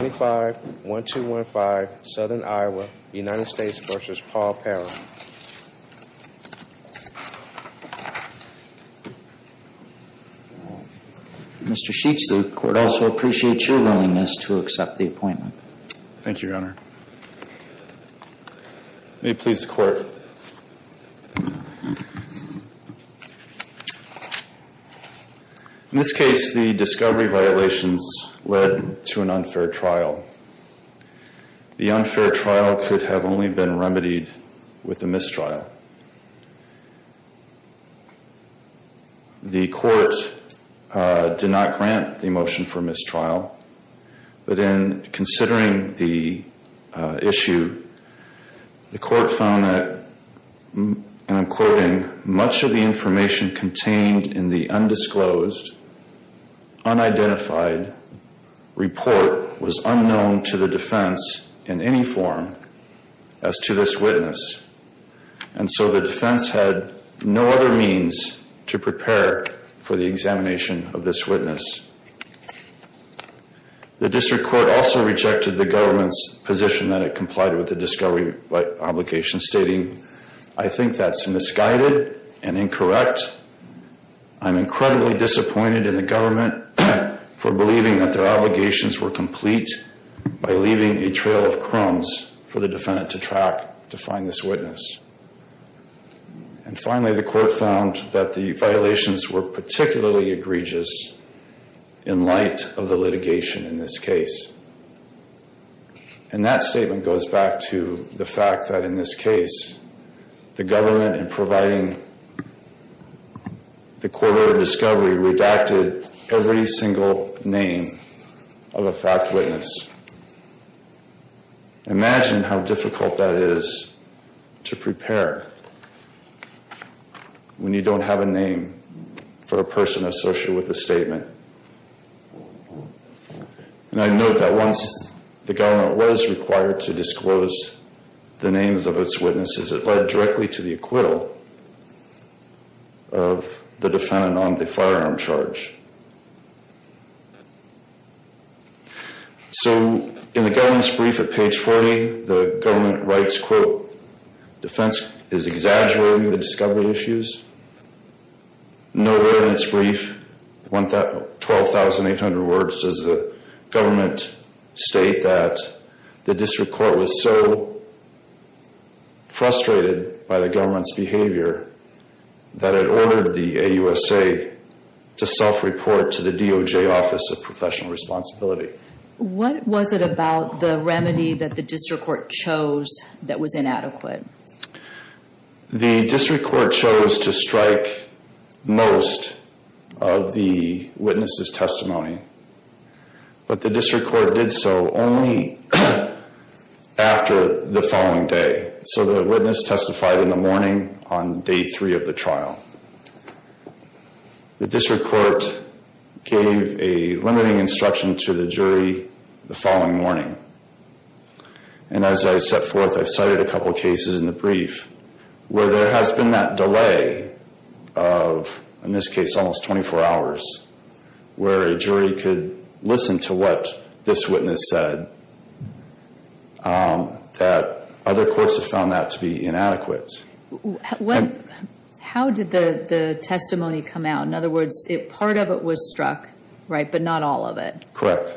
Mr. Sheets, the Court also appreciates your willingness to accept the appointment. Thank you, Your Honor. May it please the Court. In this case, the discovery violations led to an unfair trial. The unfair trial could have only been remedied with a mistrial. The Court did not grant the motion for mistrial. But in considering the issue, the Court found that, and I'm quoting, much of the information contained in the undisclosed, unidentified report was unknown to the defense in any form as to this witness. And so the defense had no other means to prepare for the examination of this witness. The district court also rejected the government's position that it complied with the discovery obligation, stating, I think that's misguided and incorrect. I'm incredibly disappointed in the government for believing that their obligations were complete by leaving a trail of crumbs for the defendant to track to find this witness. And finally, the Court found that the violations were particularly egregious in light of the litigation in this case. And that statement goes back to the fact that in this case, the government in providing the quarter of discovery redacted every single name of a fact witness. Imagine how difficult that is to prepare when you don't have a name for a person associated with a statement. And I note that once the government was required to disclose the names of its witnesses, it led directly to the acquittal of the defendant on the firearm charge. So in the government's brief at page 40, the government writes, quote, defense is exaggerating the discovery issues. Nowhere in its brief, 12,800 words, does the government state that the district court was so frustrated by the government's behavior that it ordered the AUSA to self-report to the DOJ Office of Professional Responsibility. What was it about the remedy that the district court chose that was inadequate? The district court chose to strike most of the witness's testimony. But the district court did so only after the following day. So the witness testified in the morning on day three of the trial. The district court gave a limiting instruction to the jury the following morning. And as I set forth, I cited a couple cases in the brief where there has been that delay of, in this case, almost 24 hours where a jury could listen to what this witness said, that other courts have found that to be inadequate. How did the testimony come out? In other words, part of it was struck, right, but not all of it. Correct.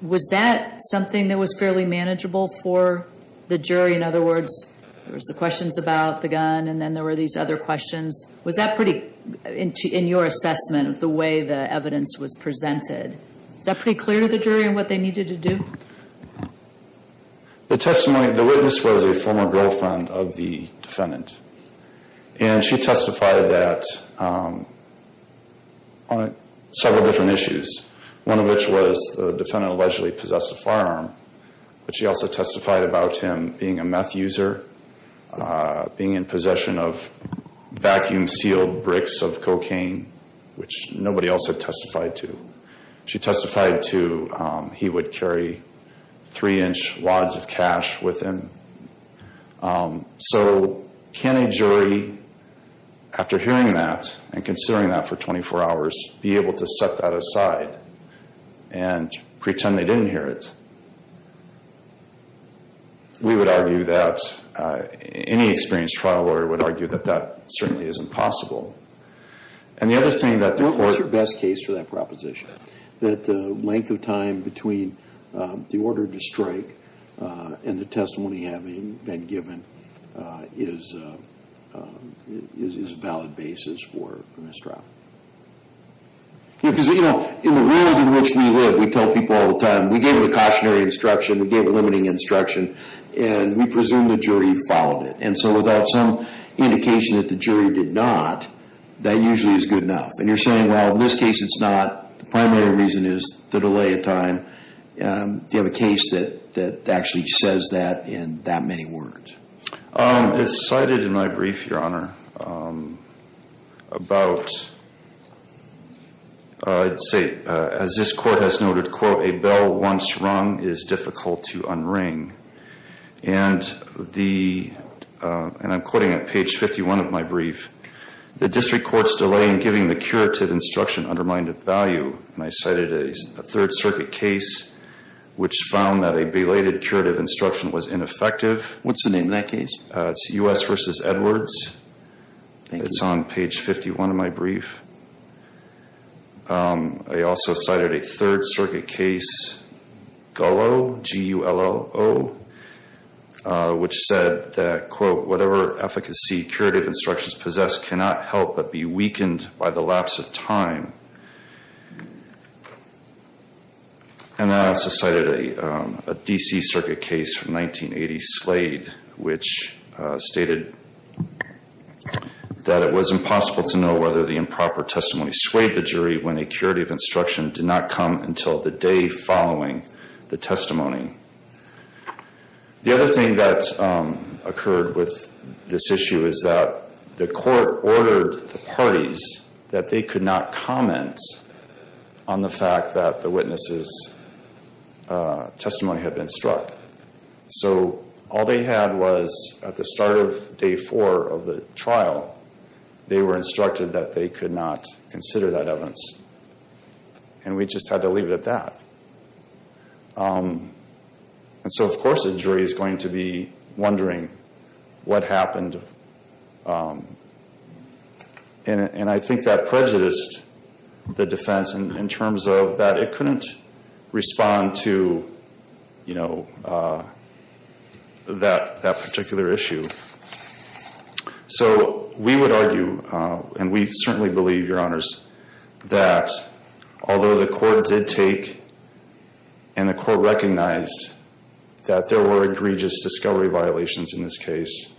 Was that something that was fairly manageable for the jury? In other words, there was the questions about the gun, and then there were these other questions. Was that pretty, in your assessment of the way the evidence was presented, was that pretty clear to the jury on what they needed to do? The testimony, the witness was a former girlfriend of the defendant. And she testified that on several different issues, one of which was the defendant allegedly possessed a firearm. But she also testified about him being a meth user, being in possession of vacuum-sealed bricks of cocaine, which nobody else had testified to. She testified to he would carry three-inch wads of cash with him. So can a jury, after hearing that and considering that for 24 hours, be able to set that aside and pretend they didn't hear it? We would argue that any experienced trial lawyer would argue that that certainly is impossible. What was your best case for that proposition? That the length of time between the order to strike and the testimony having been given is a valid basis for a misdraft. Because, you know, in the world in which we live, we tell people all the time, we gave it a cautionary instruction, we gave it limiting instruction, and we presume the jury followed it. And so without some indication that the jury did not, that usually is good enough. And you're saying, well, in this case it's not. The primary reason is the delay of time. Do you have a case that actually says that in that many words? It's cited in my brief, Your Honor, about, I'd say, as this court has noted, quote, a bell once rung is difficult to unring. And the, and I'm quoting at page 51 of my brief, the district court's delay in giving the curative instruction undermined its value. And I cited a Third Circuit case which found that a belated curative instruction was ineffective. What's the name of that case? It's U.S. v. Edwards. Thank you. It's on page 51 of my brief. I also cited a Third Circuit case, GULO, G-U-L-O, which said that, quote, whatever efficacy curative instructions possess cannot help but be weakened by the lapse of time. And I also cited a D.C. Circuit case from 1980, Slade, which stated that it was impossible to know whether the improper testimony swayed the jury when a curative instruction did not come until the day following the testimony. The other thing that occurred with this issue is that the court ordered the parties that they could not comment on the fact that the witnesses' testimony had been struck. So all they had was, at the start of day four of the trial, they were instructed that they could not consider that evidence. And we just had to leave it at that. And so, of course, the jury is going to be wondering what happened. And I think that prejudiced the defense in terms of that it couldn't respond to, you know, that particular issue. So we would argue, and we certainly believe, Your Honors, that although the court did take and the court recognized that there were egregious discovery violations in this case,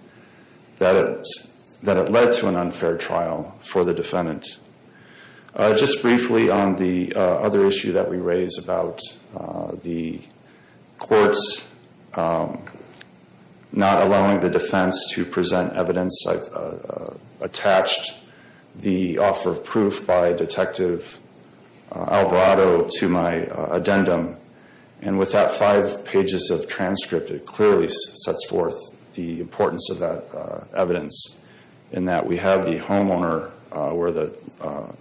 that it led to an unfair trial for the defendant. Just briefly on the other issue that we raised about the courts not allowing the defense to present evidence I've attached the offer of proof by Detective Alvarado to my addendum. And with that five pages of transcript, it clearly sets forth the importance of that evidence in that we have the homeowner where the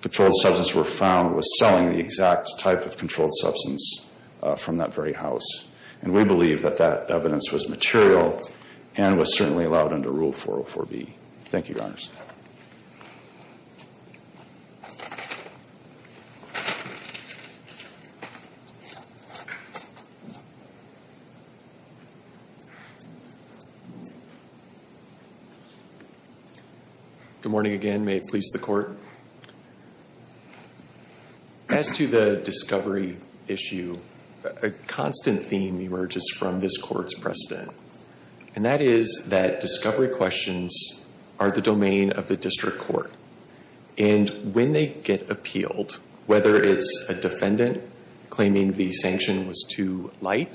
controlled substance were found was selling the exact type of controlled substance from that very house. And we believe that that evidence was material and was certainly allowed under Rule 404B. Thank you, Your Honors. Good morning again. May it please the Court. As to the discovery issue, a constant theme emerges from this Court's precedent. And that is that discovery questions are the domain of the district court. And when they get appealed, whether it's a defendant claiming the sanction was too light,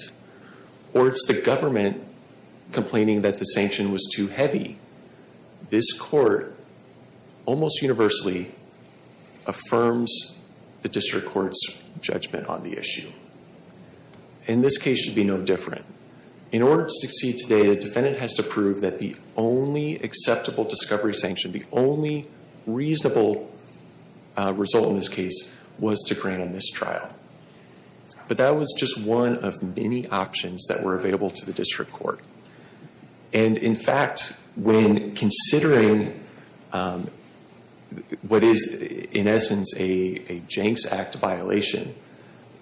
or it's the government complaining that the sanction was too heavy, this Court almost universally affirms the district court's judgment on the issue. And this case should be no different. In order to succeed today, the defendant has to prove that the only acceptable discovery sanction, the only reasonable result in this case, was to grant a mistrial. But that was just one of many options that were available to the district court. And in fact, when considering what is in essence a Janks Act violation,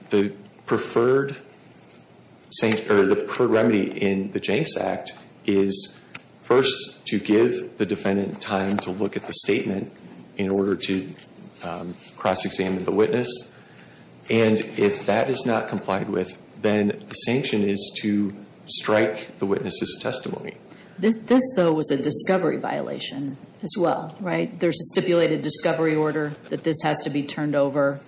the preferred remedy in the Janks Act is first to give the defendant time to look at the statement in order to cross-examine the witness. And if that is not complied with, then the sanction is to strike the witness's testimony. This, though, was a discovery violation as well, right? There's a stipulated discovery order that this has to be turned over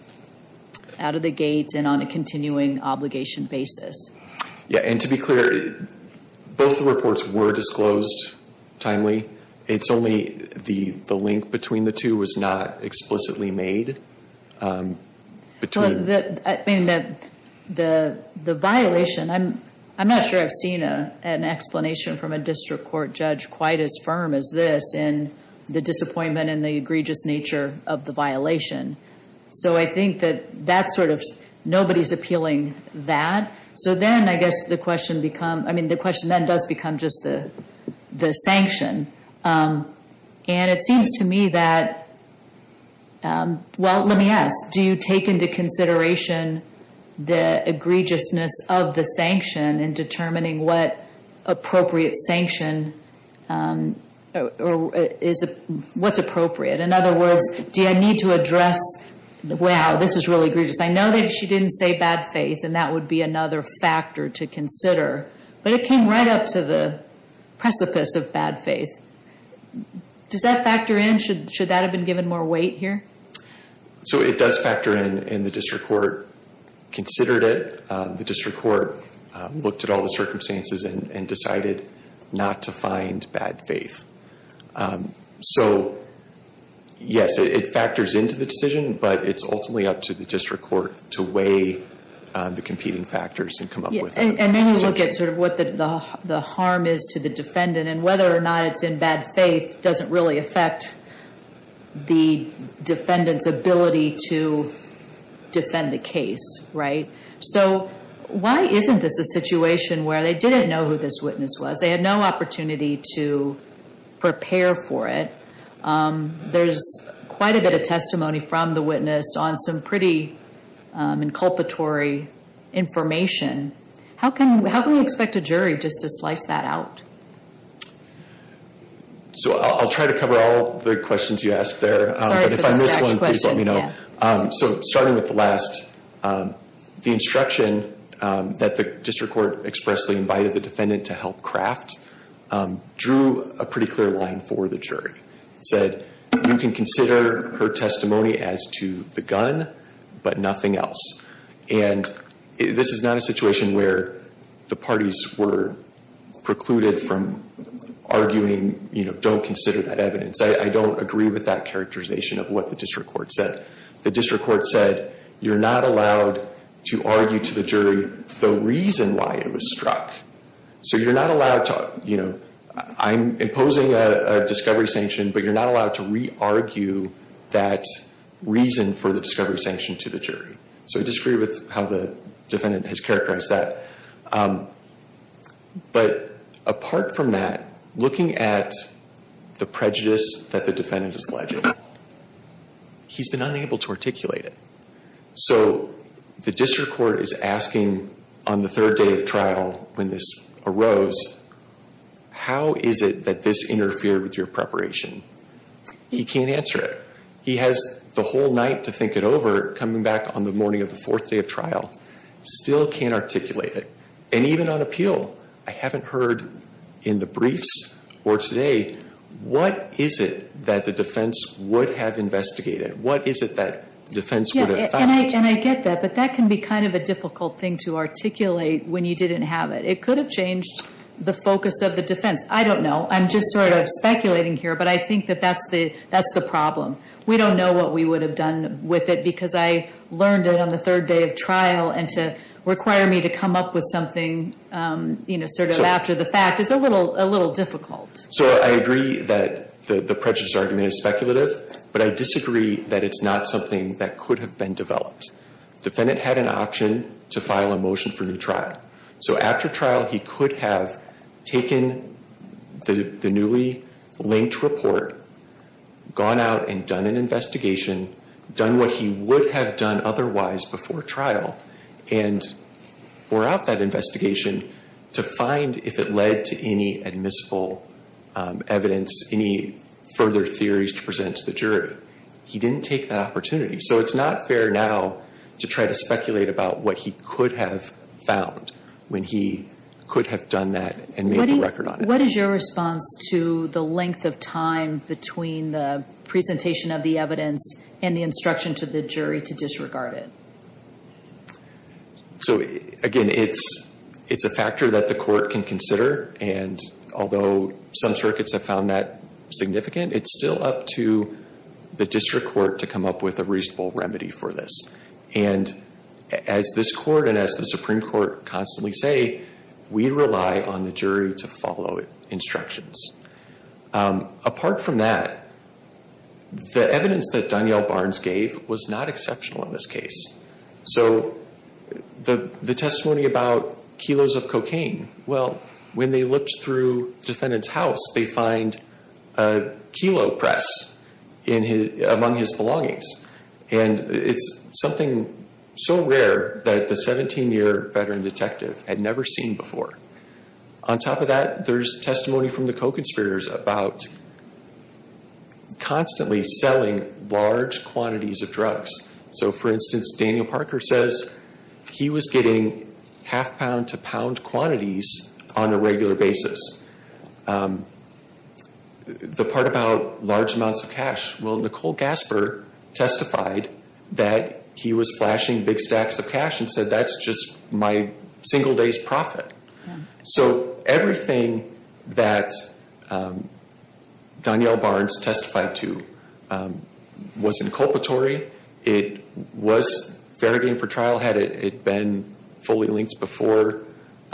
out of the gate and on a continuing obligation basis. Yeah, and to be clear, both the reports were disclosed timely. It's only the link between the two was not explicitly made. I mean, the violation, I'm not sure I've seen an explanation from a district court judge quite as firm as this in the disappointment and the egregious nature of the violation. So I think that that's sort of, nobody's appealing that. So then I guess the question becomes, I mean, the question then does become just the sanction. And it seems to me that, well, let me ask, do you take into consideration the egregiousness of the sanction in determining what appropriate sanction, what's appropriate? In other words, do I need to address, wow, this is really egregious. I know that she didn't say bad faith, and that would be another factor to consider. But it came right up to the precipice of bad faith. Does that factor in? Should that have been given more weight here? So it does factor in, and the district court considered it. The district court looked at all the circumstances and decided not to find bad faith. So, yes, it factors into the decision, but it's ultimately up to the district court to weigh the competing factors and come up with a sanction. And then you look at sort of what the harm is to the defendant, and whether or not it's in bad faith doesn't really affect the defendant's ability to defend the case, right? So why isn't this a situation where they didn't know who this witness was? They had no opportunity to prepare for it. There's quite a bit of testimony from the witness on some pretty inculpatory information. How can we expect a jury just to slice that out? So I'll try to cover all the questions you asked there. Sorry for this next question. But if I miss one, please let me know. So starting with the last, the instruction that the district court expressly invited the defendant to help craft drew a pretty clear line for the jury. It said, you can consider her testimony as to the gun, but nothing else. And this is not a situation where the parties were precluded from arguing, you know, don't consider that evidence. I don't agree with that characterization of what the district court said. The district court said, you're not allowed to argue to the jury the reason why it was struck. So you're not allowed to, you know, I'm imposing a discovery sanction, but you're not allowed to re-argue that reason for the discovery sanction to the jury. So I disagree with how the defendant has characterized that. But apart from that, looking at the prejudice that the defendant is alleging, he's been unable to articulate it. So the district court is asking on the third day of trial when this arose, how is it that this interfered with your preparation? He can't answer it. He has the whole night to think it over coming back on the morning of the fourth day of trial. Still can't articulate it. And even on appeal, I haven't heard in the briefs or today, what is it that the defense would have investigated? What is it that the defense would have found? And I get that, but that can be kind of a difficult thing to articulate when you didn't have it. It could have changed the focus of the defense. I don't know. I'm just sort of speculating here, but I think that that's the problem. We don't know what we would have done with it because I learned it on the third day of trial, and to require me to come up with something, you know, sort of after the fact is a little difficult. So I agree that the prejudice argument is speculative, but I disagree that it's not something that could have been developed. The defendant had an option to file a motion for new trial. So after trial, he could have taken the newly linked report, gone out and done an investigation, done what he would have done otherwise before trial, and wore out that investigation to find if it led to any admissible evidence, any further theories to present to the jury. He didn't take that opportunity. So it's not fair now to try to speculate about what he could have found when he could have done that and made the record on it. What is your response to the length of time between the presentation of the evidence and the instruction to the jury to disregard it? So, again, it's a factor that the court can consider, and although some circuits have found that significant, it's still up to the district court to come up with a reasonable remedy for this. And as this court and as the Supreme Court constantly say, we rely on the jury to follow instructions. Apart from that, the evidence that Danielle Barnes gave was not exceptional in this case. So the testimony about kilos of cocaine, well, when they looked through the defendant's house, they find a kilo press among his belongings, and it's something so rare that the 17-year veteran detective had never seen before. On top of that, there's testimony from the co-conspirators about constantly selling large quantities of drugs. So, for instance, Daniel Parker says he was getting half-pound to pound quantities on a regular basis. The part about large amounts of cash, well, Nicole Gasper testified that he was flashing big stacks of cash and said that's just my single day's profit. So everything that Danielle Barnes testified to wasn't culpatory. It was fair game for trial had it been fully linked before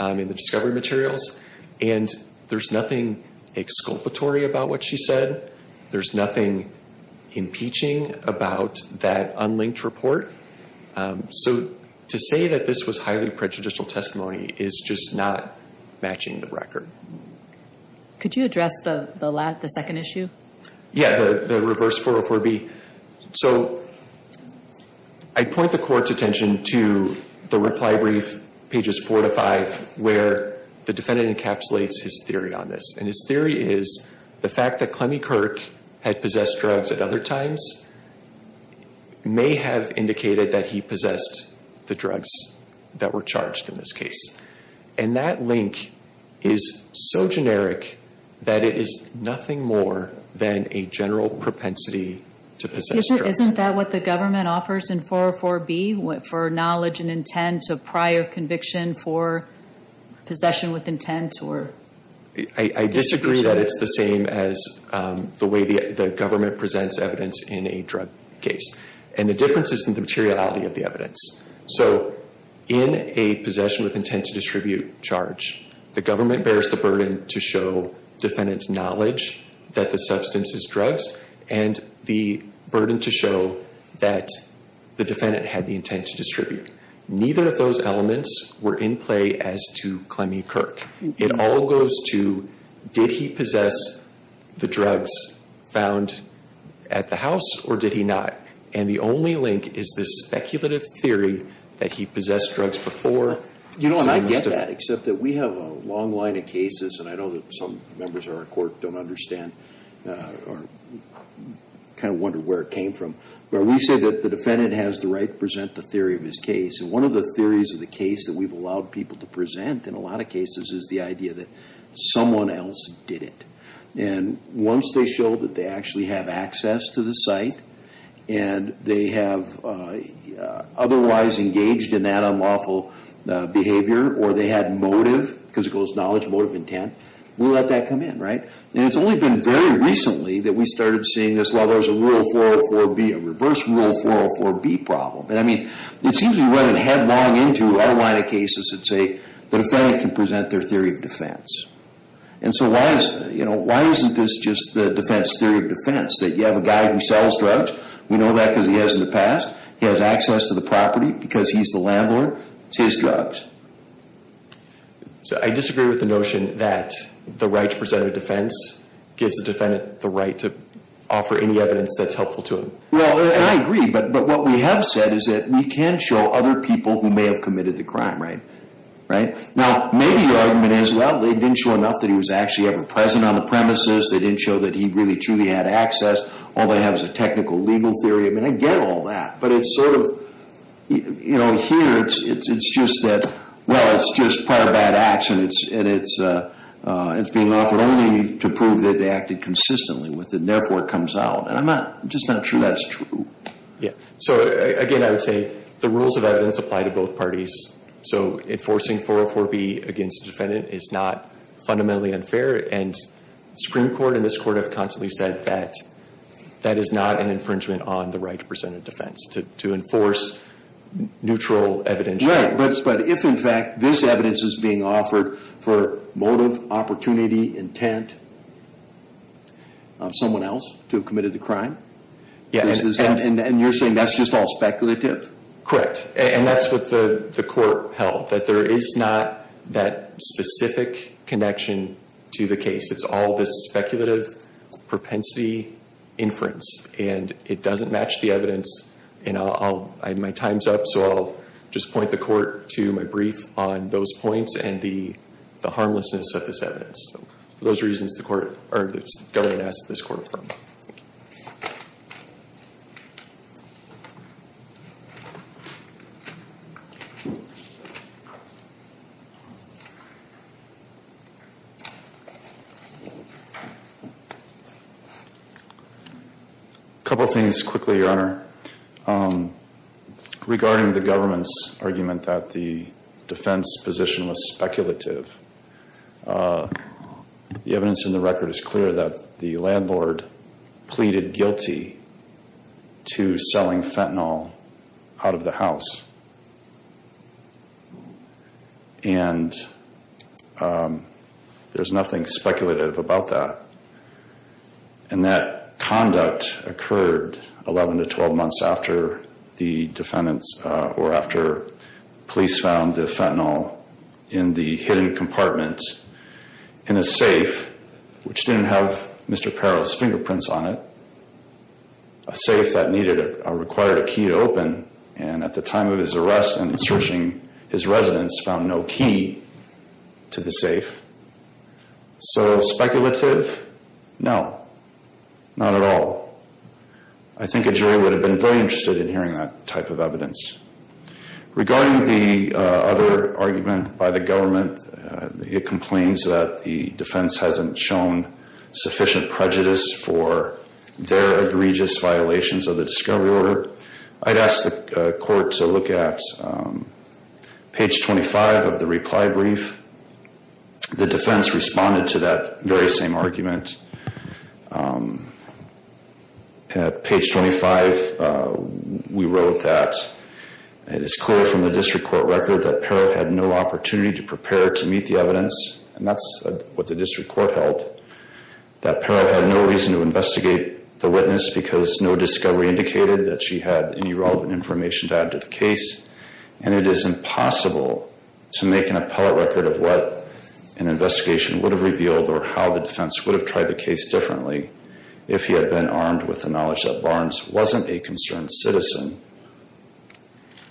in the discovery materials, and there's nothing exculpatory about what she said. There's nothing impeaching about that unlinked report. So to say that this was highly prejudicial testimony is just not matching the record. Could you address the second issue? Yeah, the reverse 404B. So I point the court's attention to the reply brief, pages four to five, where the defendant encapsulates his theory on this, and his theory is the fact that Clemmie Kirk had possessed drugs at other times may have indicated that he possessed the drugs that were charged in this case. And that link is so generic that it is nothing more than a general propensity to possess drugs. Isn't that what the government offers in 404B, for knowledge and intent of prior conviction for possession with intent? I disagree that it's the same as the way the government presents evidence in a drug case. And the difference is in the materiality of the evidence. So in a possession with intent to distribute charge, the government bears the burden to show defendant's knowledge that the substance is drugs and the burden to show that the defendant had the intent to distribute. Neither of those elements were in play as to Clemmie Kirk. It all goes to did he possess the drugs found at the house or did he not? And the only link is this speculative theory that he possessed drugs before. You know, and I get that, except that we have a long line of cases, and I know that some members of our court don't understand or kind of wonder where it came from, where we say that the defendant has the right to present the theory of his case. And one of the theories of the case that we've allowed people to present in a lot of cases is the idea that someone else did it. And once they show that they actually have access to the site and they have otherwise engaged in that unlawful behavior or they had motive, because it goes knowledge, motive, intent, we'll let that come in, right? And it's only been very recently that we started seeing this, well, there was a Rule 404B, a reverse Rule 404B problem. And, I mean, it seems we run headlong into our line of cases that say the defendant can present their theory of defense. And so why isn't this just the defense theory of defense, that you have a guy who sells drugs? We know that because he has in the past. He has access to the property because he's the landlord. It's his drugs. So I disagree with the notion that the right to present a defense gives the defendant the right to offer any evidence that's helpful to him. Well, and I agree, but what we have said is that we can show other people who may have committed the crime, right? Now, maybe the argument is, well, they didn't show enough that he was actually ever present on the premises. They didn't show that he really truly had access. All they have is a technical legal theory. I mean, I get all that, but it's sort of, you know, here it's just that, well, it's just part of bad action. It's being offered only to prove that they acted consistently with it, and therefore it comes out. And I'm just not sure that's true. Yeah. So, again, I would say the rules of evidence apply to both parties. So enforcing 404B against the defendant is not fundamentally unfair, and Supreme Court and this Court have constantly said that that is not an infringement on the right to present a defense, to enforce neutral evidence. Right. But if, in fact, this evidence is being offered for motive, opportunity, intent, someone else to have committed the crime. Yeah. And you're saying that's just all speculative? Correct. And that's what the Court held, that there is not that specific connection to the case. It's all this speculative propensity inference, and it doesn't match the evidence. And my time's up, so I'll just point the Court to my brief on those points and the harmlessness of this evidence. So for those reasons, the Court, or the government asked this Court to confirm. Thank you. A couple things quickly, Your Honor. Regarding the government's argument that the defense position was speculative, the evidence in the record is clear that the landlord pleaded guilty to selling fentanyl out of the house. And there's nothing speculative about that. And that conduct occurred 11 to 12 months after the defendants, or after police found the fentanyl in the hidden compartment in a safe, which didn't have Mr. Perrow's fingerprints on it, a safe that required a key to open. And at the time of his arrest and searching, his residents found no key to the safe. So speculative? No. Not at all. I think a jury would have been very interested in hearing that type of evidence. Regarding the other argument by the government, it complains that the defense hasn't shown sufficient prejudice for their egregious violations of the discovery order, I'd ask the Court to look at page 25 of the reply brief. The defense responded to that very same argument. Page 25, we wrote that it is clear from the district court record that Perrow had no opportunity to prepare to meet the evidence, and that's what the district court held, that Perrow had no reason to investigate the witness because no discovery indicated that she had any relevant information to add to the case, and it is impossible to make an appellate record of what an investigation would have revealed or how the defense would have tried the case differently if he had been armed with the knowledge that Barnes wasn't a concerned citizen.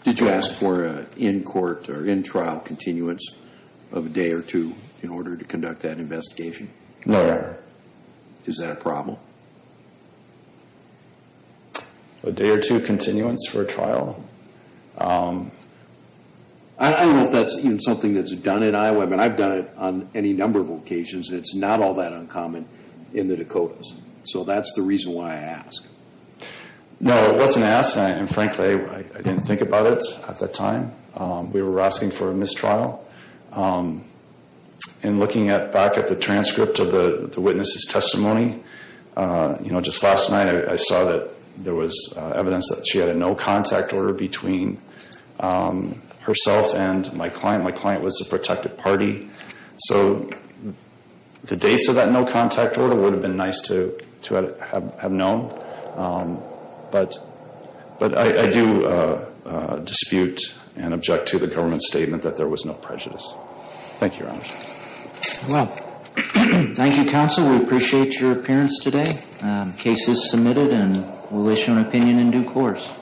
Did you ask for an in-court or in-trial continuance of a day or two in order to conduct that investigation? No, Your Honor. Is that a problem? A day or two continuance for a trial? I don't know if that's even something that's done in Iowa. I mean, I've done it on any number of occasions, and it's not all that uncommon in the Dakotas. So that's the reason why I ask. No, it wasn't asked, and frankly, I didn't think about it at that time. We were asking for a mistrial. In looking back at the transcript of the witness's testimony, just last night I saw that there was evidence that she had a no-contact order between herself and my client. My client was the protected party. So the dates of that no-contact order would have been nice to have known, but I do dispute and object to the government's statement that there was no prejudice. Thank you, Your Honor. Thank you, counsel. We appreciate your appearance today. The case is submitted, and we'll issue an opinion in due course.